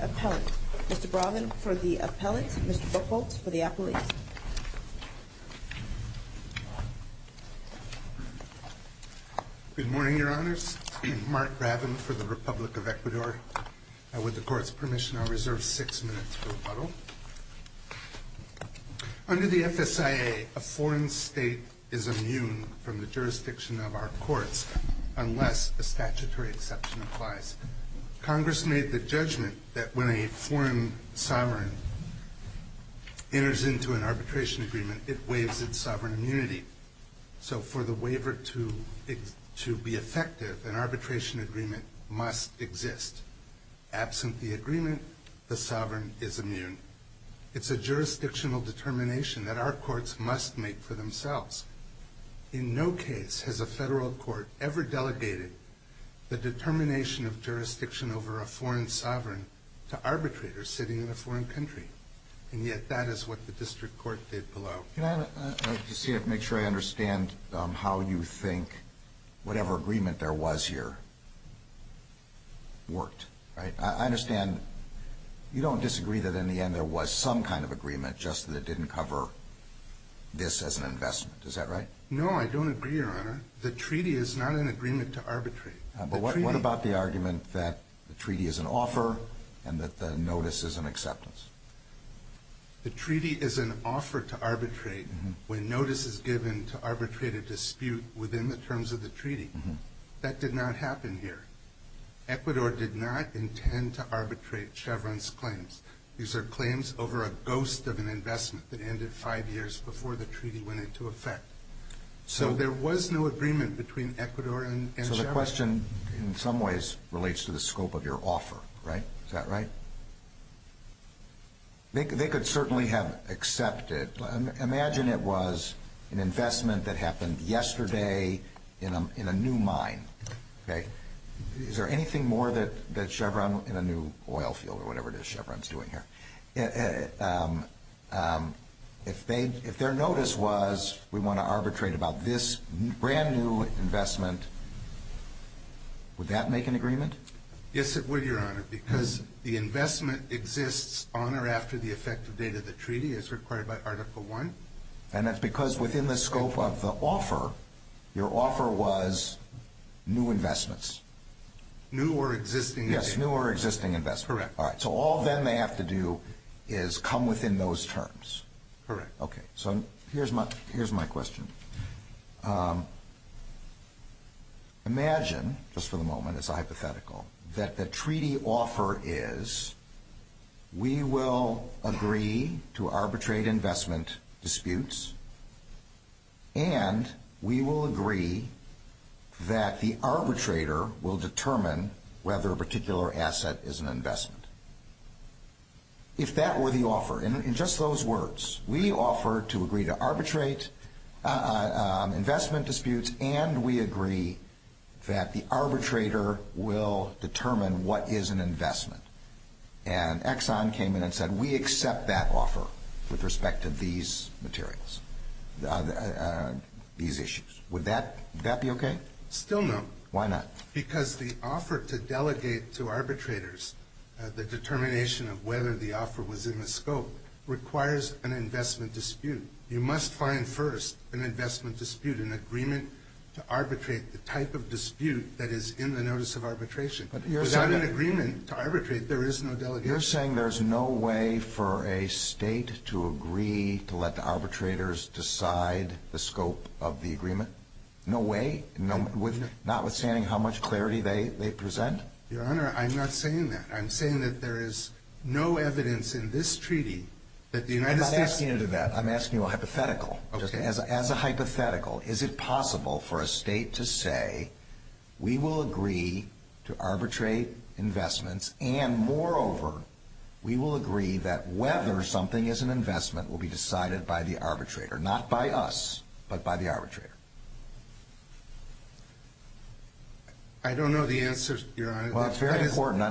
Appellant. Mr. Bravin, for the Appellant. Mr. Buchholz, for the Appellant. Good morning, Your Honors. Mark Bravin, for the Republic of Ecuador. And with the Court's State is immune from the jurisdiction of our courts unless a statutory exception applies. Congress made the judgment that when a foreign sovereign enters into an arbitration agreement it waives its sovereign immunity. So for the waiver to be effective, an arbitration agreement must exist. Absent the agreement, the sovereign is immune. It's a jurisdictional determination that our courts must make for themselves. In no case has a federal court ever delegated the determination of jurisdiction over a foreign sovereign to arbitrators sitting in a foreign country. And yet that is what the District Court did below. Can I just make sure I understand how you think whatever agreement there was here worked? I understand you don't disagree that in the end there was some kind of agreement just that didn't cover this as an investment. Is that right? No, I don't agree, Your Honor. The treaty is not an agreement to arbitrate. But what about the argument that the treaty is an offer and that the notice is an acceptance? The treaty is an offer to arbitrate when notice is given to arbitrate a dispute within the terms of the treaty. That did not happen here. Ecuador did not intend to arbitrate Chevron's notice. These are claims over a ghost of an investment that ended five years before the treaty went into effect. So there was no agreement between Ecuador and Chevron. So the question in some ways relates to the scope of your offer, right? Is that right? They could certainly have accepted. Imagine it was an investment that happened yesterday in a new mine, okay? Is there anything more that Chevron in a new oil field or whatever it is Chevron's doing here? If their notice was we want to arbitrate about this brand new investment, would that make an agreement? Yes, it would, Your Honor, because the investment exists on or after the effective date of the treaty as required by Article I. And that's because within the scope of the offer, your offer was new investments? New or existing investments. Yes, new or existing investments. Correct. All right. So all then they have to do is come within those terms. Correct. Okay. So here's my question. Imagine, just for the moment, it's a hypothetical, that the treaty offer is we will agree to arbitrate investment disputes and we will agree that the arbitrator will determine whether a particular asset is an investment. If that were the offer, in just those words, we offer to agree to arbitrate investment disputes and we agree that the arbitrator will determine what is an investment. And Exxon came in and said we accept that offer with respect to these materials, these issues. Would that be okay? Still no. Why not? Because the offer to delegate to arbitrators, the determination of whether the offer was in the scope, requires an investment dispute. You must find first an investment dispute, an agreement to arbitrate the type of dispute that is in the notice of arbitration. But you're saying... It's not an agreement to arbitrate. There is no delegation. You're saying there's no way for a state to agree to let the arbitrators decide the scope of the agreement? No way? Notwithstanding how much clarity they present? Your Honor, I'm not saying that. I'm saying that there is no evidence in this treaty that the United States... I'm not asking you to do that. I'm asking you a hypothetical. Okay. As a hypothetical, is it possible for a state to say we will agree to arbitrate investments and moreover, we will agree that whether something is an investment will be decided by the arbitrator. Not by us, but by the arbitrator. I don't know the answer, Your Honor. Well, it's very important.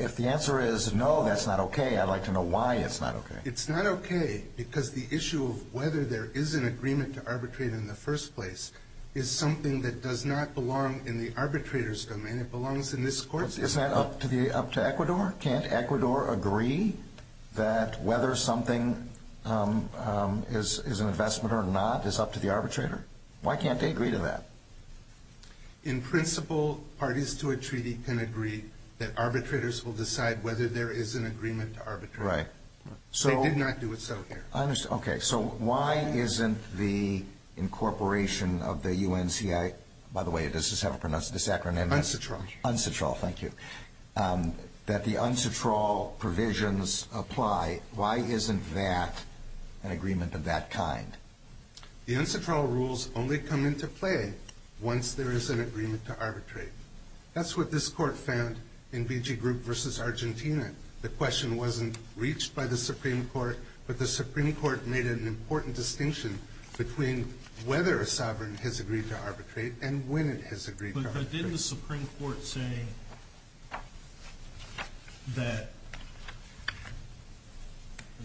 If the answer is no, that's not okay. I'd like to know why it's not okay. It's not okay because the issue of whether there is an agreement to arbitrate in the first place is something that does not belong in the arbitrator's domain. It belongs in this court's domain. Isn't that up to Ecuador? Can't Ecuador agree that whether something is an investment or not is up to the arbitrator? Why can't they agree to that? In principle, parties to a treaty can agree that arbitrators will decide whether there is an agreement to arbitrate. Right. They did not do it so here. I understand. Okay. So, why isn't the incorporation of the UNCI... By the way, does this have a pronounced acronym? UNCITRAL. UNCITRAL. Thank you. That the UNCITRAL provisions apply, why isn't that an agreement of that kind? The UNCITRAL rules only come into play once there is an agreement to arbitrate. That's what this court found in Vigigroup v. Argentina. The question wasn't reached by the Supreme Court, but the Supreme Court made an important distinction between whether a sovereign has agreed to arbitrate and when it has agreed to arbitrate. But didn't the Supreme Court say that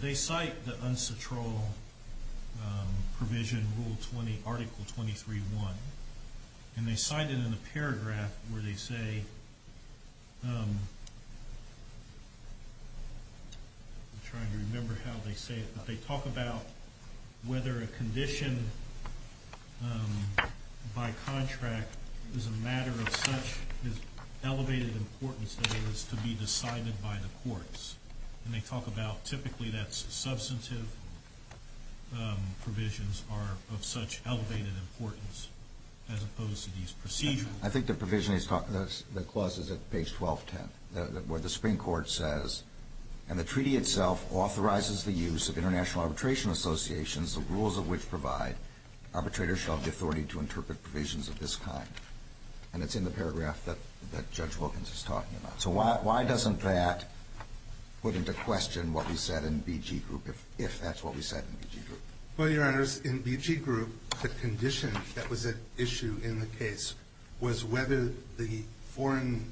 they cite the UNCITRAL provision, Article 23.1, and they cite it in a paragraph where they say, I'm trying to remember how they say it, but they talk about whether a condition by contract is a matter of such elevated importance that it is to be decided by the courts. And they talk about typically that substantive provisions are of such elevated importance as opposed to these procedural. I think the provision is... the clause is at page 1210 where the Supreme Court says, and the treaty itself authorizes the use of international arbitration associations, the rules of which provide arbitrators shall have the authority to interpret provisions of this kind. And it's in the paragraph that Judge Wilkins is talking about. So why doesn't that put into question what we said in Vigigroup, if that's what we said in Vigigroup? Well, Your Honors, in Vigigroup, the condition that was at issue in the case was whether the foreign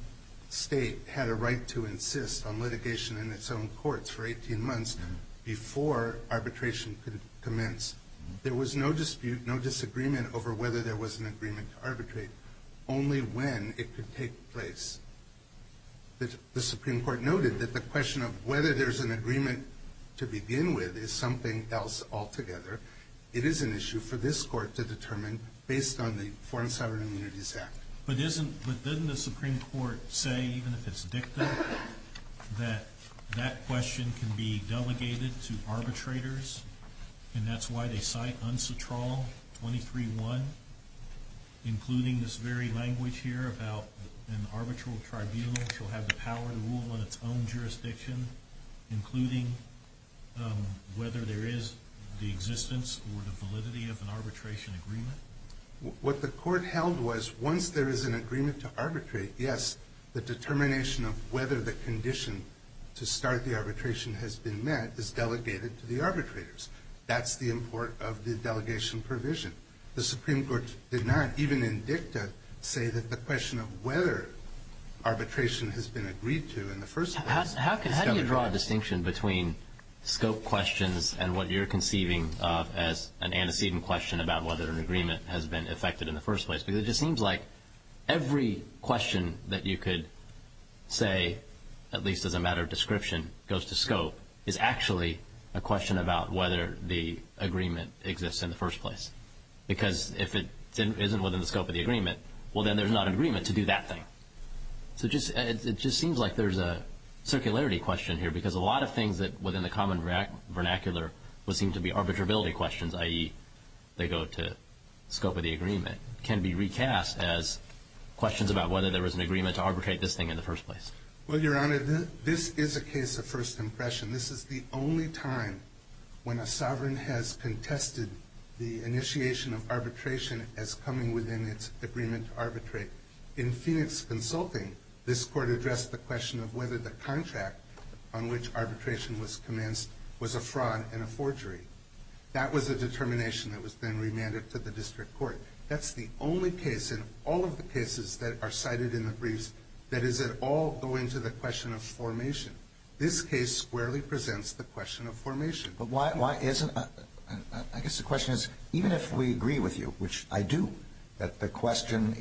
state had a right to insist on litigation in its own courts for 18 months before arbitration could commence. There was no dispute, no disagreement over whether there was an agreement to arbitrate, only when it could take place. The Supreme Court noted that the question of whether there's an agreement to begin with is something else altogether. It is an issue for this Court to determine based on the Foreign Sovereign Immunities Act. But isn't... but doesn't the Supreme Court say, even if it's dicta, that that question can be delegated to arbitrators, and that's why they cite UNCTRAL 23-1, including this very language here about an arbitral tribunal shall have the power to rule on its own jurisdiction, including whether there is the existence or the validity of an arbitration agreement? What the Court held was, once there is an agreement to arbitrate, yes, the determination of whether the condition to start the arbitration has been met is delegated to the arbitrators. That's the import of the delegation provision. The Supreme Court did not, even in dicta, say that the question of whether arbitration has been agreed to in the first place How do you draw a distinction between scope questions and what you're conceiving of as an antecedent question about whether an agreement has been effected in the first place? Because it just seems like every question that you could say, at least as a matter of description, goes to scope, is actually a question about whether the agreement exists in the first place. Because if it isn't within the scope of the agreement, well, then there's not an agreement to do that thing. So it just seems like there's a circularity question here because a lot of things within the common vernacular would seem to be arbitrability questions, i.e., they go to scope of the agreement, can be recast as questions about whether there was an agreement to arbitrate this thing in the first place. Well, Your Honor, this is a case of first impression. This is the only time when a sovereign has contested the initiation of arbitration as coming within its agreement to arbitrate. In Phoenix Consulting, this court addressed the question of whether the contract on which arbitration was commenced was a fraud and a forgery. That was a determination that was then remanded to the district court. That's the only case in all of the cases that are cited in the briefs that does it all go into the question of formation. This case squarely presents the question of formation. But why isn't it? I guess the question is, even if we agree with you, which I do, that the question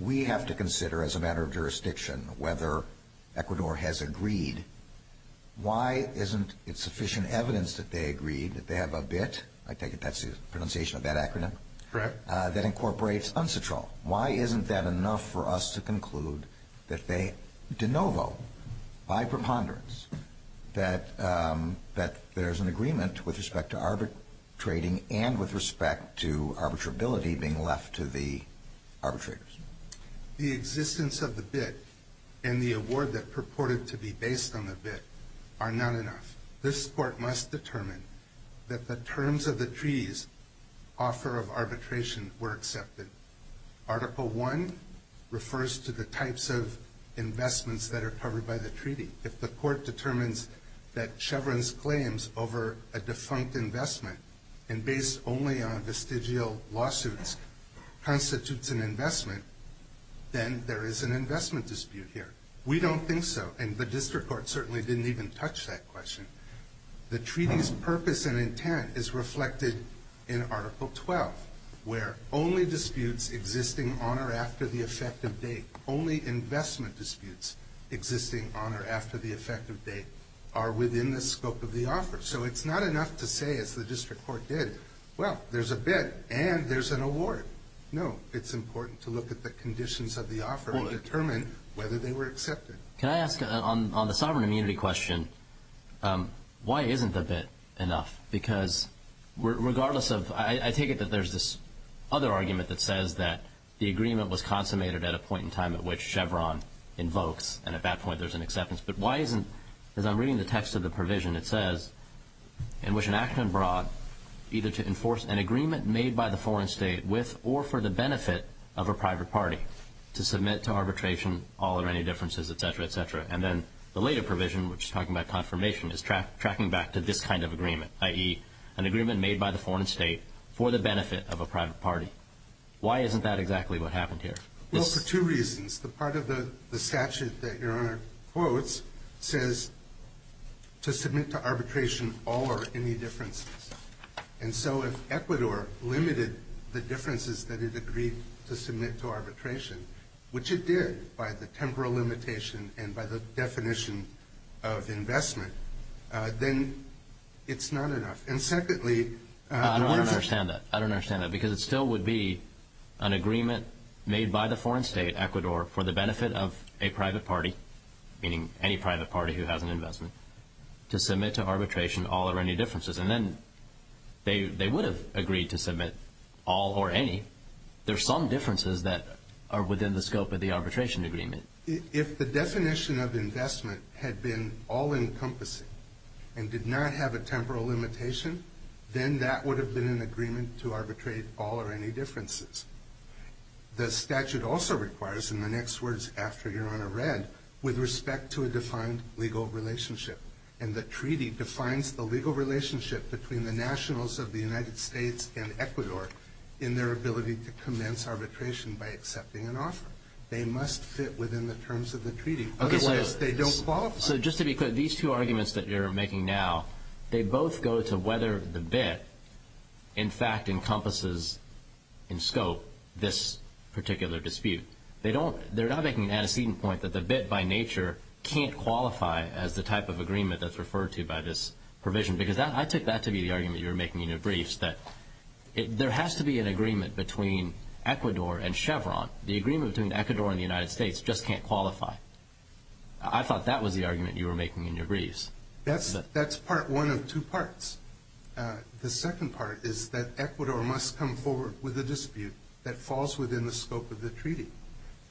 we have to consider as a matter of jurisdiction, whether Ecuador has agreed, why isn't it sufficient evidence that they agreed that they have a BIT, I take it that's the pronunciation of that acronym, that incorporates UNCTRAL. Why isn't that enough for us to conclude that they de novo, by preponderance, that there's an agreement with respect to arbitrating and with respect to arbitrability being left to the arbitrators? The existence of the BIT and the award that purported to be based on the BIT are not enough. This court must determine that the terms of the treaty's offer of arbitration were accepted. Article 1 refers to the types of investments that are covered by the treaty. If the court determines that Chevron's claims over a defunct investment and based only on vestigial lawsuits constitutes an investment, then there is an investment dispute here. We don't think so, and the district court certainly didn't even touch that question. The treaty's purpose and intent is reflected in Article 12, where only disputes existing on or after the effective date, only investment disputes existing on or after the effective date, are within the scope of the offer. So it's not enough to say, as the district court did, well, there's a BIT and there's an award. No, it's important to look at the conditions of the offer and determine whether they were accepted. Can I ask, on the sovereign immunity question, why isn't the BIT enough? Because regardless of – I take it that there's this other argument that says that the agreement was consummated at a point in time at which Chevron invokes, and at that point there's an acceptance. But why isn't, as I'm reading the text of the provision, it says, in which an act went abroad either to enforce an agreement made by the foreign state with or for the benefit of a private party to submit to arbitration all or any differences, et cetera, et cetera. And then the later provision, which is talking about confirmation, is tracking back to this kind of agreement, i.e. an agreement made by the foreign state for the benefit of a private party. Why isn't that exactly what happened here? Well, for two reasons. The part of the statute that Your Honor quotes says to submit to arbitration all or any differences. And so if Ecuador limited the differences that it agreed to submit to arbitration, which it did by the temporal limitation and by the definition of investment, then it's not enough. I don't understand that. I don't understand that because it still would be an agreement made by the foreign state, Ecuador, for the benefit of a private party, meaning any private party who has an investment, to submit to arbitration all or any differences. And then they would have agreed to submit all or any. There are some differences that are within the scope of the arbitration agreement. If the definition of investment had been all-encompassing and did not have a temporal limitation, then that would have been an agreement to arbitrate all or any differences. The statute also requires, in the next words after Your Honor read, with respect to a defined legal relationship. And the treaty defines the legal relationship between the nationals of the United States and Ecuador in their ability to commence arbitration by accepting an offer. They must fit within the terms of the treaty, otherwise they don't qualify. So just to be clear, these two arguments that you're making now, they both go to whether the BIT, in fact, encompasses in scope this particular dispute. They're not making an antecedent point that the BIT, by nature, can't qualify as the type of agreement that's referred to by this provision. Because I take that to be the argument you were making in your briefs, that there has to be an agreement between Ecuador and Chevron. The agreement between Ecuador and the United States just can't qualify. I thought that was the argument you were making in your briefs. That's part one of two parts. The second part is that Ecuador must come forward with a dispute that falls within the scope of the treaty.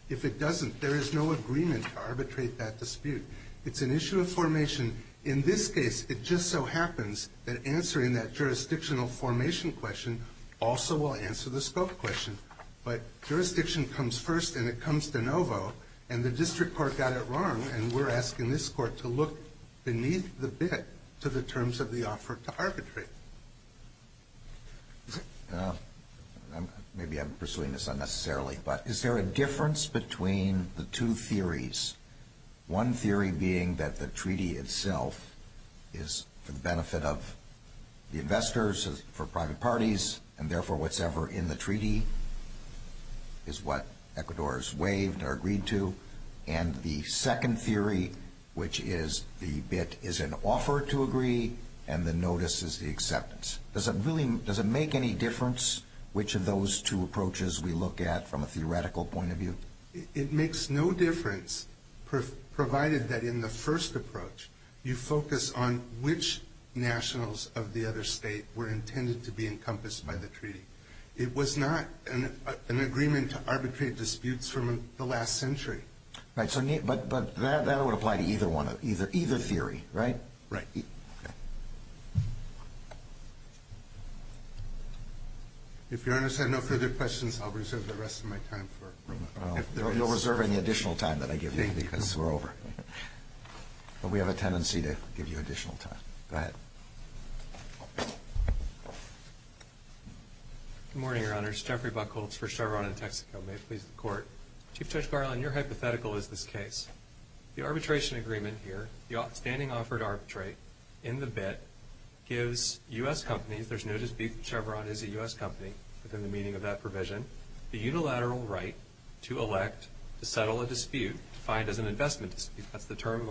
If it doesn't, there is no agreement to arbitrate that dispute. It's an issue of formation. In this case, it just so happens that answering that jurisdictional formation question also will answer the scope question. But jurisdiction comes first, and it comes de novo. And the district court got it wrong, and we're asking this court to look beneath the BIT to the terms of the offer to arbitrate. Maybe I'm pursuing this unnecessarily, but is there a difference between the two theories, one theory being that the treaty itself is for the benefit of the investors, for private parties, and therefore what's ever in the treaty is what Ecuador has waived or agreed to, and the second theory, which is the BIT is an offer to agree and the notice is the acceptance. Does it make any difference which of those two approaches we look at from a theoretical point of view? It makes no difference, provided that in the first approach, you focus on which nationals of the other state were intended to be encompassed by the treaty. It was not an agreement to arbitrate disputes from the last century. Right. But that would apply to either one, either theory, right? Right. Okay. If Your Honor has had no further questions, I'll reserve the rest of my time. You'll reserve any additional time that I give you, because we're over. But we have a tendency to give you additional time. Go ahead. Good morning, Your Honor. It's Jeffrey Buchholz for Chevron and Texaco. May it please the Court. Chief Judge Garland, your hypothetical is this case. The arbitration agreement here, the outstanding offer to arbitrate in the BIT gives U.S. companies, there's no dispute Chevron is a U.S. company within the meaning of that provision, the unilateral right to elect, to settle a dispute, defined as an investment dispute. That's the term in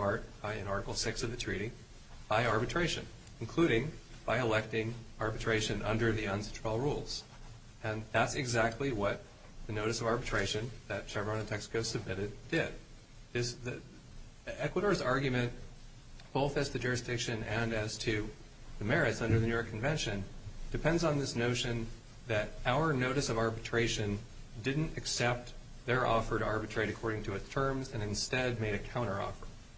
Article VI of the treaty, by arbitration, including by electing arbitration under the unsuitable rules. And that's exactly what the notice of arbitration that Chevron and Texaco submitted did. Ecuador's argument, both as to jurisdiction and as to the merits under the New York Convention, depends on this notion that our notice of arbitration didn't accept their offer to arbitrate according to its terms and instead made a counteroffer.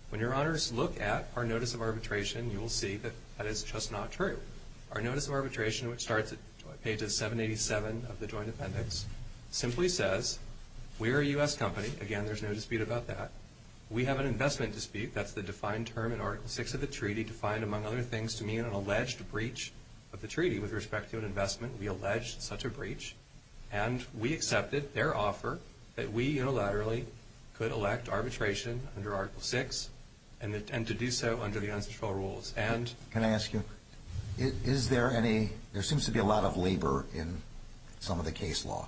When Your Honors look at our notice of arbitration, you will see that that is just not true. Our notice of arbitration, which starts at pages 787 of the Joint Appendix, simply says we are a U.S. company. Again, there's no dispute about that. We have an investment dispute, that's the defined term in Article VI of the treaty, defined, among other things, to mean an alleged breach of the treaty with respect to an investment. We allege such a breach. And we accepted their offer that we unilaterally could elect arbitration under Article VI and to do so under the unsuitable rules. Can I ask you, is there any, there seems to be a lot of labor in some of the case law.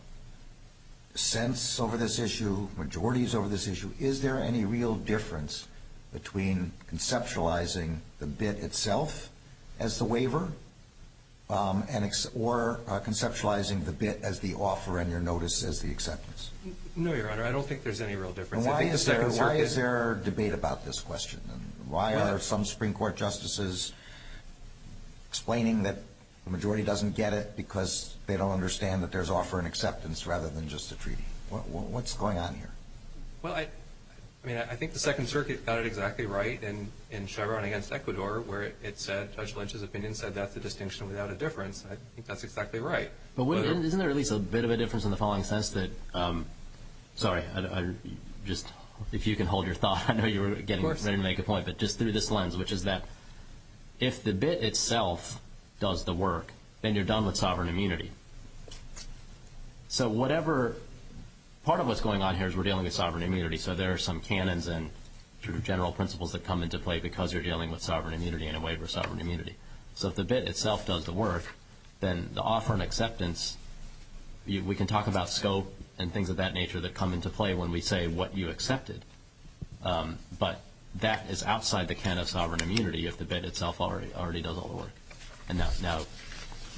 Sents over this issue, majorities over this issue, is there any real difference between conceptualizing the bid itself as the waiver or conceptualizing the bid as the offer and your notice as the acceptance? No, Your Honor, I don't think there's any real difference. Why is there debate about this question? Why are some Supreme Court justices explaining that the majority doesn't get it because they don't understand that there's offer and acceptance rather than just a treaty? What's going on here? Well, I mean, I think the Second Circuit got it exactly right in Chevron against Ecuador where it said, Judge Lynch's opinion said, that's a distinction without a difference. I think that's exactly right. Isn't there at least a bit of a difference in the following sense that, sorry, just if you can hold your thought, I know you were getting ready to make a point, but just through this lens, which is that if the bid itself does the work, then you're done with sovereign immunity. So whatever, part of what's going on here is we're dealing with sovereign immunity, so there are some canons and general principles that come into play because you're dealing with sovereign immunity and a waiver of sovereign immunity. So if the bid itself does the work, then the offer and acceptance, we can talk about scope and things of that nature that come into play when we say what you accepted, but that is outside the canon of sovereign immunity if the bid itself already does all the work. And now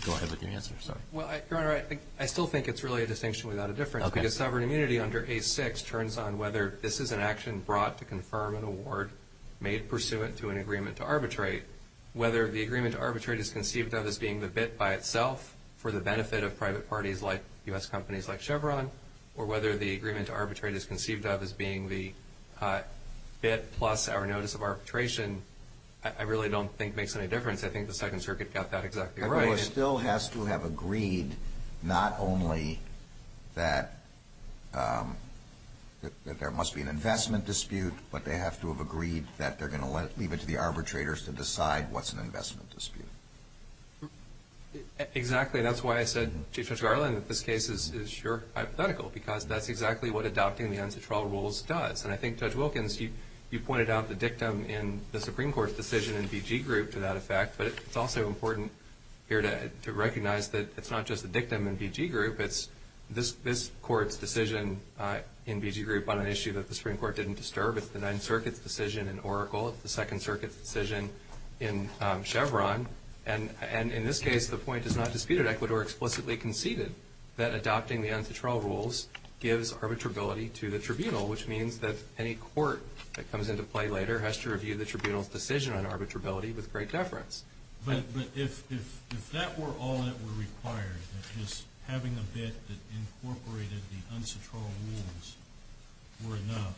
go ahead with your answer. Well, Your Honor, I still think it's really a distinction without a difference because sovereign immunity under A6 turns on whether this is an action brought to confirm an award made pursuant to an agreement to arbitrate. Whether the agreement to arbitrate is conceived of as being the bid by itself for the benefit of private parties like U.S. companies like Chevron, or whether the agreement to arbitrate is conceived of as being the bid plus our notice of arbitration, I really don't think makes any difference. I think the Second Circuit got that exactly right. I think it still has to have agreed not only that there must be an investment dispute, but they have to have agreed that they're going to leave it to the arbitrators to decide what's an investment dispute. Exactly. That's why I said, Judge Garland, that this case is sure hypothetical because that's exactly what adopting the Ancetral Rules does. And I think, Judge Wilkins, you pointed out the dictum in the Supreme Court's decision in BG Group to that effect, but it's also important here to recognize that it's not just the dictum in BG Group. It's this Court's decision in BG Group on an issue that the Supreme Court didn't disturb. It's the Ninth Circuit's decision in Oracle. It's the Second Circuit's decision in Chevron. And in this case, the point is not disputed. Ecuador explicitly conceded that adopting the Ancetral Rules gives arbitrability to the tribunal, which means that any court that comes into play later has to review the tribunal's decision on arbitrability with great deference. But if that were all that were required, just having a bit that incorporated the Ancetral Rules were enough,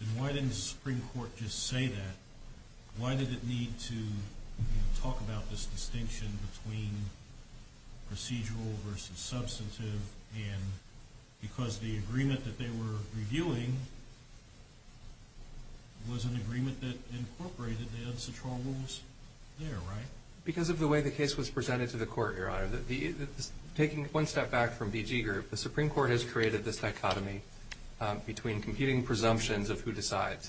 then why didn't the Supreme Court just say that? Why did it need to talk about this distinction between procedural versus substantive? And because the agreement that they were reviewing was an agreement that incorporated the Ancetral Rules there, right? Because of the way the case was presented to the Court, Your Honor. Taking one step back from BG Group, the Supreme Court has created this dichotomy between competing presumptions of who decides.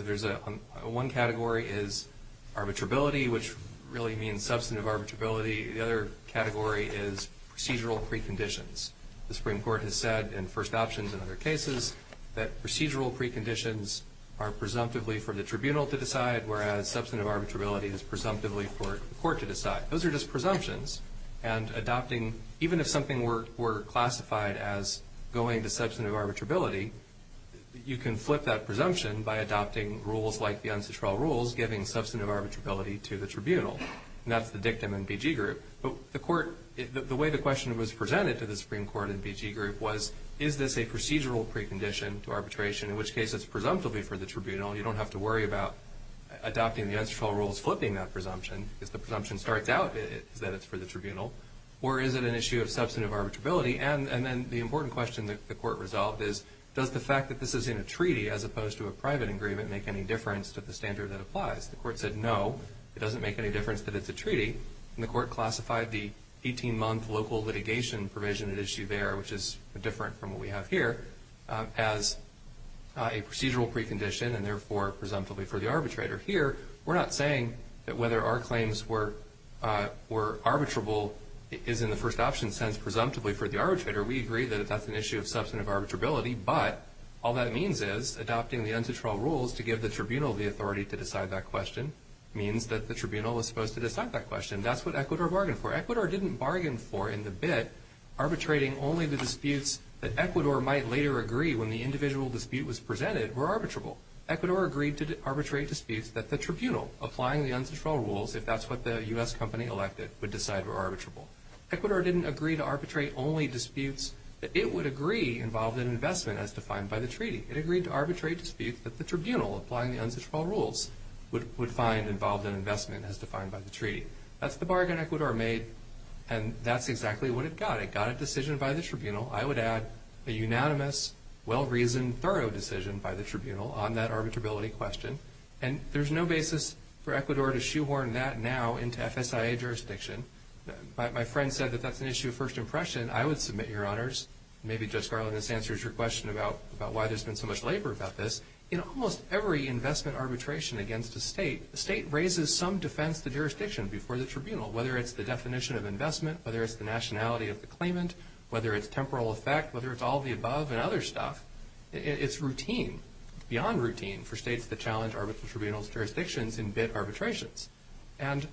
One category is arbitrability, which really means substantive arbitrability. The other category is procedural preconditions. The Supreme Court has said in first options and other cases that procedural preconditions are presumptively for the tribunal to decide, whereas substantive arbitrability is presumptively for the court to decide. Those are just presumptions. And even if something were classified as going to substantive arbitrability, you can flip that presumption by adopting rules like the Ancetral Rules, giving substantive arbitrability to the tribunal. And that's the dictum in BG Group. But the way the question was presented to the Supreme Court in BG Group was, is this a procedural precondition to arbitration, in which case it's presumptively for the tribunal and you don't have to worry about adopting the Ancetral Rules flipping that presumption because the presumption starts out that it's for the tribunal, or is it an issue of substantive arbitrability? And then the important question that the Court resolved is, does the fact that this is in a treaty as opposed to a private agreement make any difference to the standard that applies? The Court said no, it doesn't make any difference that it's a treaty. And the Court classified the 18-month local litigation provision at issue there, which is different from what we have here, as a procedural precondition and therefore presumptively for the arbitrator. Here, we're not saying that whether our claims were arbitrable is in the first option sense presumptively for the arbitrator. We agree that that's an issue of substantive arbitrability, but all that means is adopting the Ancetral Rules to give the tribunal the authority to decide that question means that the tribunal is supposed to decide that question. That's what Ecuador bargained for. Ecuador didn't bargain for, in the bit, arbitrating only the disputes that Ecuador might later agree when the individual dispute was presented were arbitrable. Ecuador agreed to arbitrate disputes that the tribunal, applying the Ancetral Rules, if that's what the U.S. company elected, would decide were arbitrable. Ecuador didn't agree to arbitrate only disputes that it would agree involved in investment as defined by the treaty. It agreed to arbitrate disputes that the tribunal, applying the Ancetral Rules, would find involved in investment as defined by the treaty. That's the bargain Ecuador made, and that's exactly what it got. It got a decision by the tribunal. I would add a unanimous, well-reasoned, thorough decision by the tribunal on that arbitrability question, and there's no basis for Ecuador to shoehorn that now into FSIA jurisdiction. My friend said that that's an issue of first impression. I would submit, Your Honors, and maybe, Judge Garland, this answers your question about why there's been so much labor about this. In almost every investment arbitration against a state, the state raises some defense to jurisdiction before the tribunal, whether it's the definition of investment, whether it's the nationality of the claimant, whether it's temporal effect, whether it's all of the above and other stuff. It's routine, beyond routine, for states to challenge arbitral tribunals' jurisdictions in bid arbitrations. And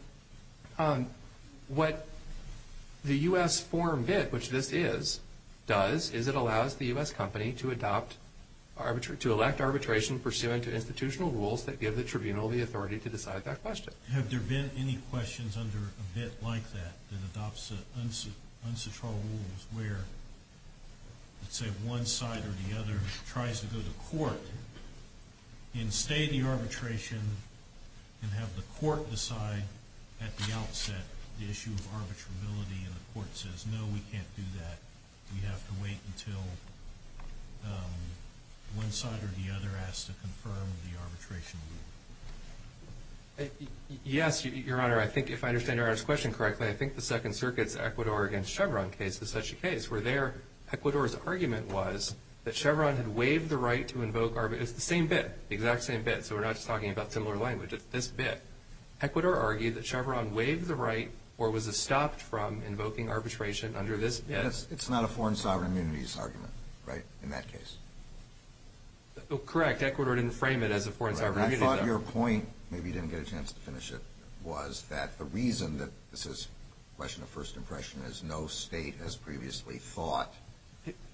what the U.S. foreign bid, which this is, does, is it allows the U.S. company to adopt, to elect arbitration pursuant to institutional rules that give the tribunal the authority to decide that question. Have there been any questions under a bid like that, that adopts an unsatural rule where, let's say, one side or the other tries to go to court, and stay the arbitration, and have the court decide at the outset the issue of arbitrability, and the court says, no, we can't do that, we have to wait until one side or the other has to confirm the arbitration rule? Yes, Your Honor. I think, if I understand Your Honor's question correctly, I think the Second Circuit's Ecuador against Chevron case is such a case where there, Ecuador's argument was that Chevron had waived the right to invoke arbitration. It's the same bid, the exact same bid, so we're not just talking about similar language. It's this bid. Ecuador argued that Chevron waived the right or was stopped from invoking arbitration under this bid. It's not a foreign sovereign immunity's argument, right, in that case? Correct. Ecuador didn't frame it as a foreign sovereign immunity. I thought your point, maybe you didn't get a chance to finish it, was that the reason that this is a question of first impression is no state has previously thought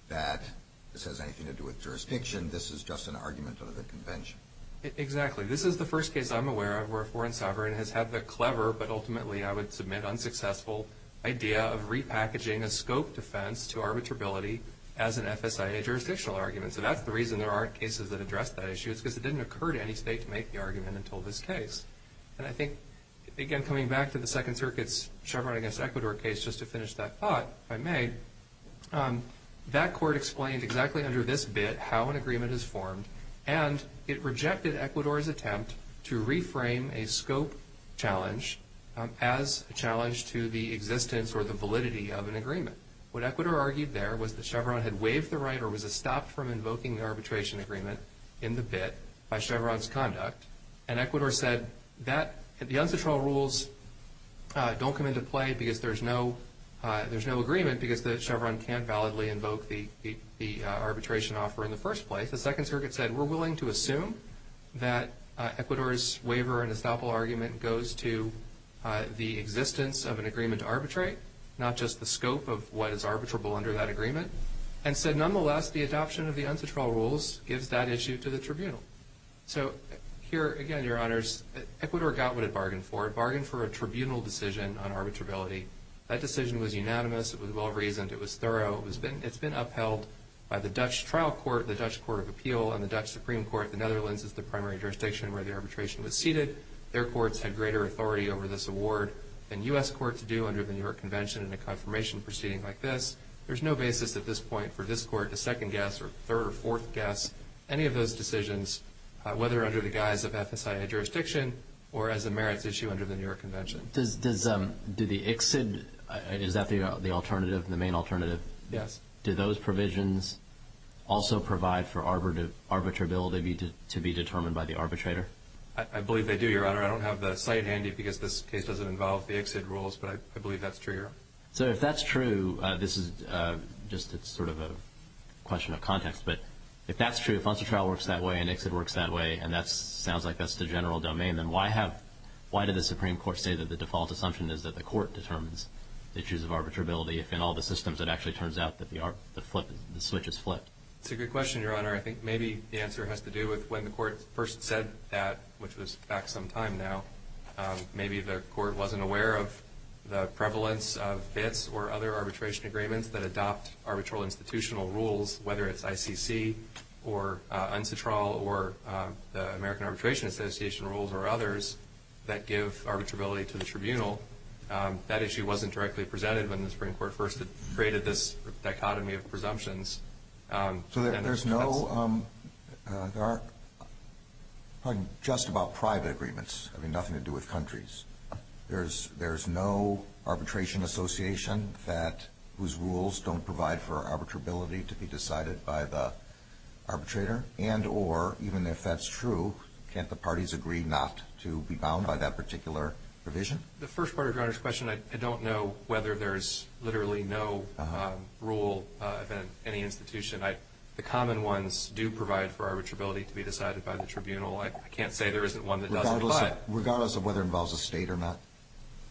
that this has anything to do with jurisdiction. This is just an argument of a convention. Exactly. This is the first case I'm aware of where a foreign sovereign has had the clever but ultimately, I would submit, unsuccessful idea of repackaging a scope defense to arbitrability as an FSIA jurisdictional argument. So that's the reason there aren't cases that address that issue is because it didn't occur to any state to make the argument until this case. And I think, again, coming back to the Second Circuit's Chevron against Ecuador case, just to finish that thought, if I may, that court explained exactly under this bit how an agreement is formed and it rejected Ecuador's attempt to reframe a scope challenge as a challenge to the existence or the validity of an agreement. What Ecuador argued there was that Chevron had waived the right or was stopped from invoking the arbitration agreement in the bit by Chevron's conduct, and Ecuador said, the unsatural rules don't come into play because there's no agreement because the Chevron can't validly invoke the arbitration offer in the first place. The Second Circuit said, we're willing to assume that Ecuador's waiver and estoppel argument goes to the existence of an agreement to arbitrate, not just the scope of what is arbitrable under that agreement, and said, nonetheless, the adoption of the unsatural rules gives that issue to the tribunal. So here, again, Your Honors, Ecuador got what it bargained for. It bargained for a tribunal decision on arbitrability. That decision was unanimous. It was well-reasoned. It was thorough. It's been upheld by the Dutch trial court, the Dutch Court of Appeal, and the Dutch Supreme Court. The Netherlands is the primary jurisdiction where the arbitration was seated. Their courts had greater authority over this award than U.S. courts do under the New York Convention in a confirmation proceeding like this. There's no basis at this point for this court to second guess or third or fourth guess whether under the guise of FSIA jurisdiction or as a merits issue under the New York Convention. Does the ICSID, is that the alternative, the main alternative? Yes. Do those provisions also provide for arbitrability to be determined by the arbitrator? I believe they do, Your Honor. I don't have the site handy because this case doesn't involve the ICSID rules, but I believe that's true, Your Honor. So if that's true, this is just sort of a question of context, but if that's true, if FONSA trial works that way and ICSID works that way and that sounds like that's the general domain, then why did the Supreme Court say that the default assumption is that the court determines the issues of arbitrability if in all the systems it actually turns out that the switch is flipped? It's a good question, Your Honor. I think maybe the answer has to do with when the court first said that, which was back some time now, maybe the court wasn't aware of the prevalence of FITs or other arbitration agreements that adopt arbitral institutional rules, whether it's ICC or UNCITRAL or the American Arbitration Association rules or others that give arbitrability to the tribunal. That issue wasn't directly presented when the Supreme Court first created this dichotomy of presumptions. So there's no, there are, pardon me, just about private agreements. I mean, nothing to do with countries. There's no arbitration association that, whose rules don't provide for arbitrability to be decided by the arbitrator and or even if that's true, can't the parties agree not to be bound by that particular provision? The first part of Your Honor's question, I don't know whether there's literally no rule of any institution. The common ones do provide for arbitrability to be decided by the tribunal. I can't say there isn't one that doesn't. Regardless of whether it involves a state or not?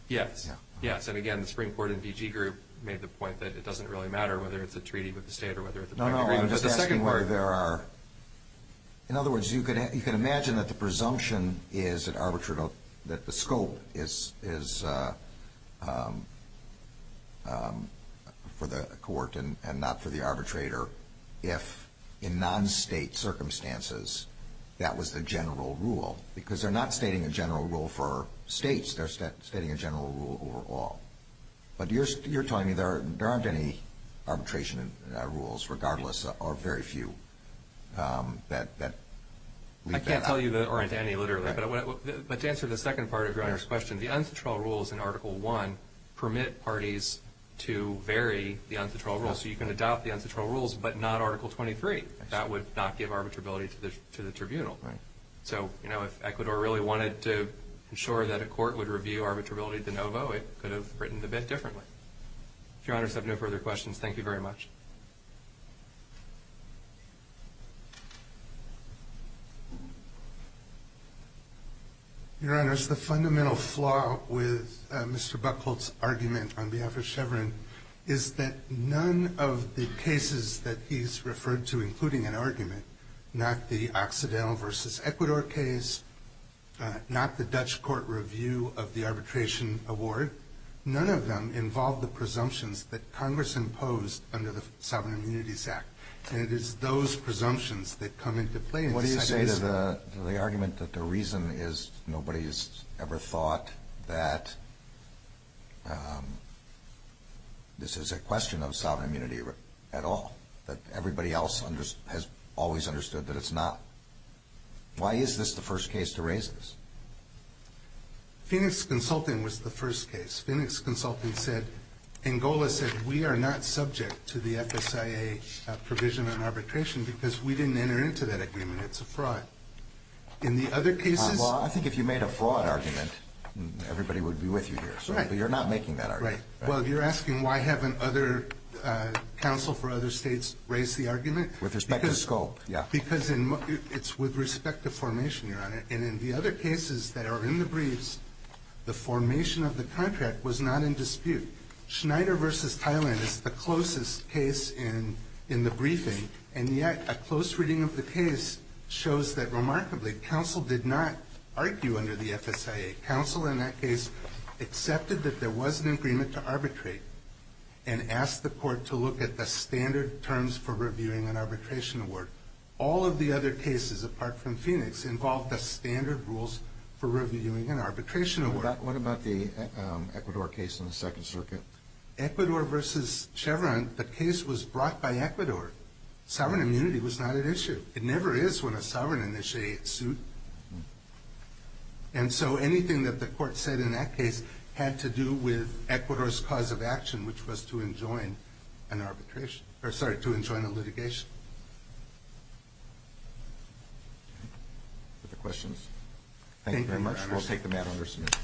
Yes, yes. And again, the Supreme Court and BG Group made the point that it doesn't really matter whether it's a treaty with the state or whether it's a private agreement. No, no, I'm just asking where there are, in other words, you can imagine that the presumption is that the scope is for the court and not for the arbitrator if in non-state circumstances that was the general rule because they're not stating a general rule for states. They're stating a general rule over all. But you're telling me there aren't any arbitration rules regardless or very few that leave that out? I can't tell you there aren't any literally. But to answer the second part of Your Honor's question, the uncontrollable rules in Article I permit parties to vary the uncontrollable rules. So you can adopt the uncontrollable rules but not Article 23. That would not give arbitrability to the tribunal. Right. So, you know, if Ecuador really wanted to ensure that a court would review arbitrability de novo, it could have written the bid differently. If Your Honors have no further questions, thank you very much. Your Honors, the fundamental flaw with Mr. Buchholz's argument on behalf of Chevron is that none of the cases that he's referred to, including an argument, not the Occidental v. Ecuador case, not the Dutch court review of the arbitration award, none of them involve the presumptions that Congress imposed under the Sovereign Immunities Act. And it is those presumptions that come into play. What do you say to the argument that the reason is nobody has ever thought that this is a question of sovereign immunity at all, that everybody else has always understood that it's not? Why is this the first case to raise this? Phoenix Consulting was the first case. Phoenix Consulting said, Angola said, we are not subject to the FSIA provision on arbitration because we didn't enter into that agreement. It's a fraud. In the other cases... Well, I think if you made a fraud argument, everybody would be with you here. Right. But you're not making that argument. Right. Well, you're asking why haven't other counsel for other states raised the argument? With respect to scope, yeah. Because it's with respect to formation, Your Honor. And in the other cases that are in the briefs, the formation of the contract was not in dispute. Schneider v. Thailand is the closest case in the briefing, and yet a close reading of the case shows that remarkably, counsel did not argue under the FSIA. Counsel in that case accepted that there was an agreement to arbitrate and asked the court to look at the standard terms for reviewing an arbitration award. All of the other cases, apart from Phoenix, involved the standard rules for reviewing an arbitration award. What about the Ecuador case in the Second Circuit? Ecuador v. Chevron, the case was brought by Ecuador. Sovereign immunity was not at issue. It never is when a sovereign initiates suit. And so anything that the court said in that case had to do with Ecuador's cause of action, which was to enjoin a litigation. Other questions? Thank you very much. We'll take the matter under submission.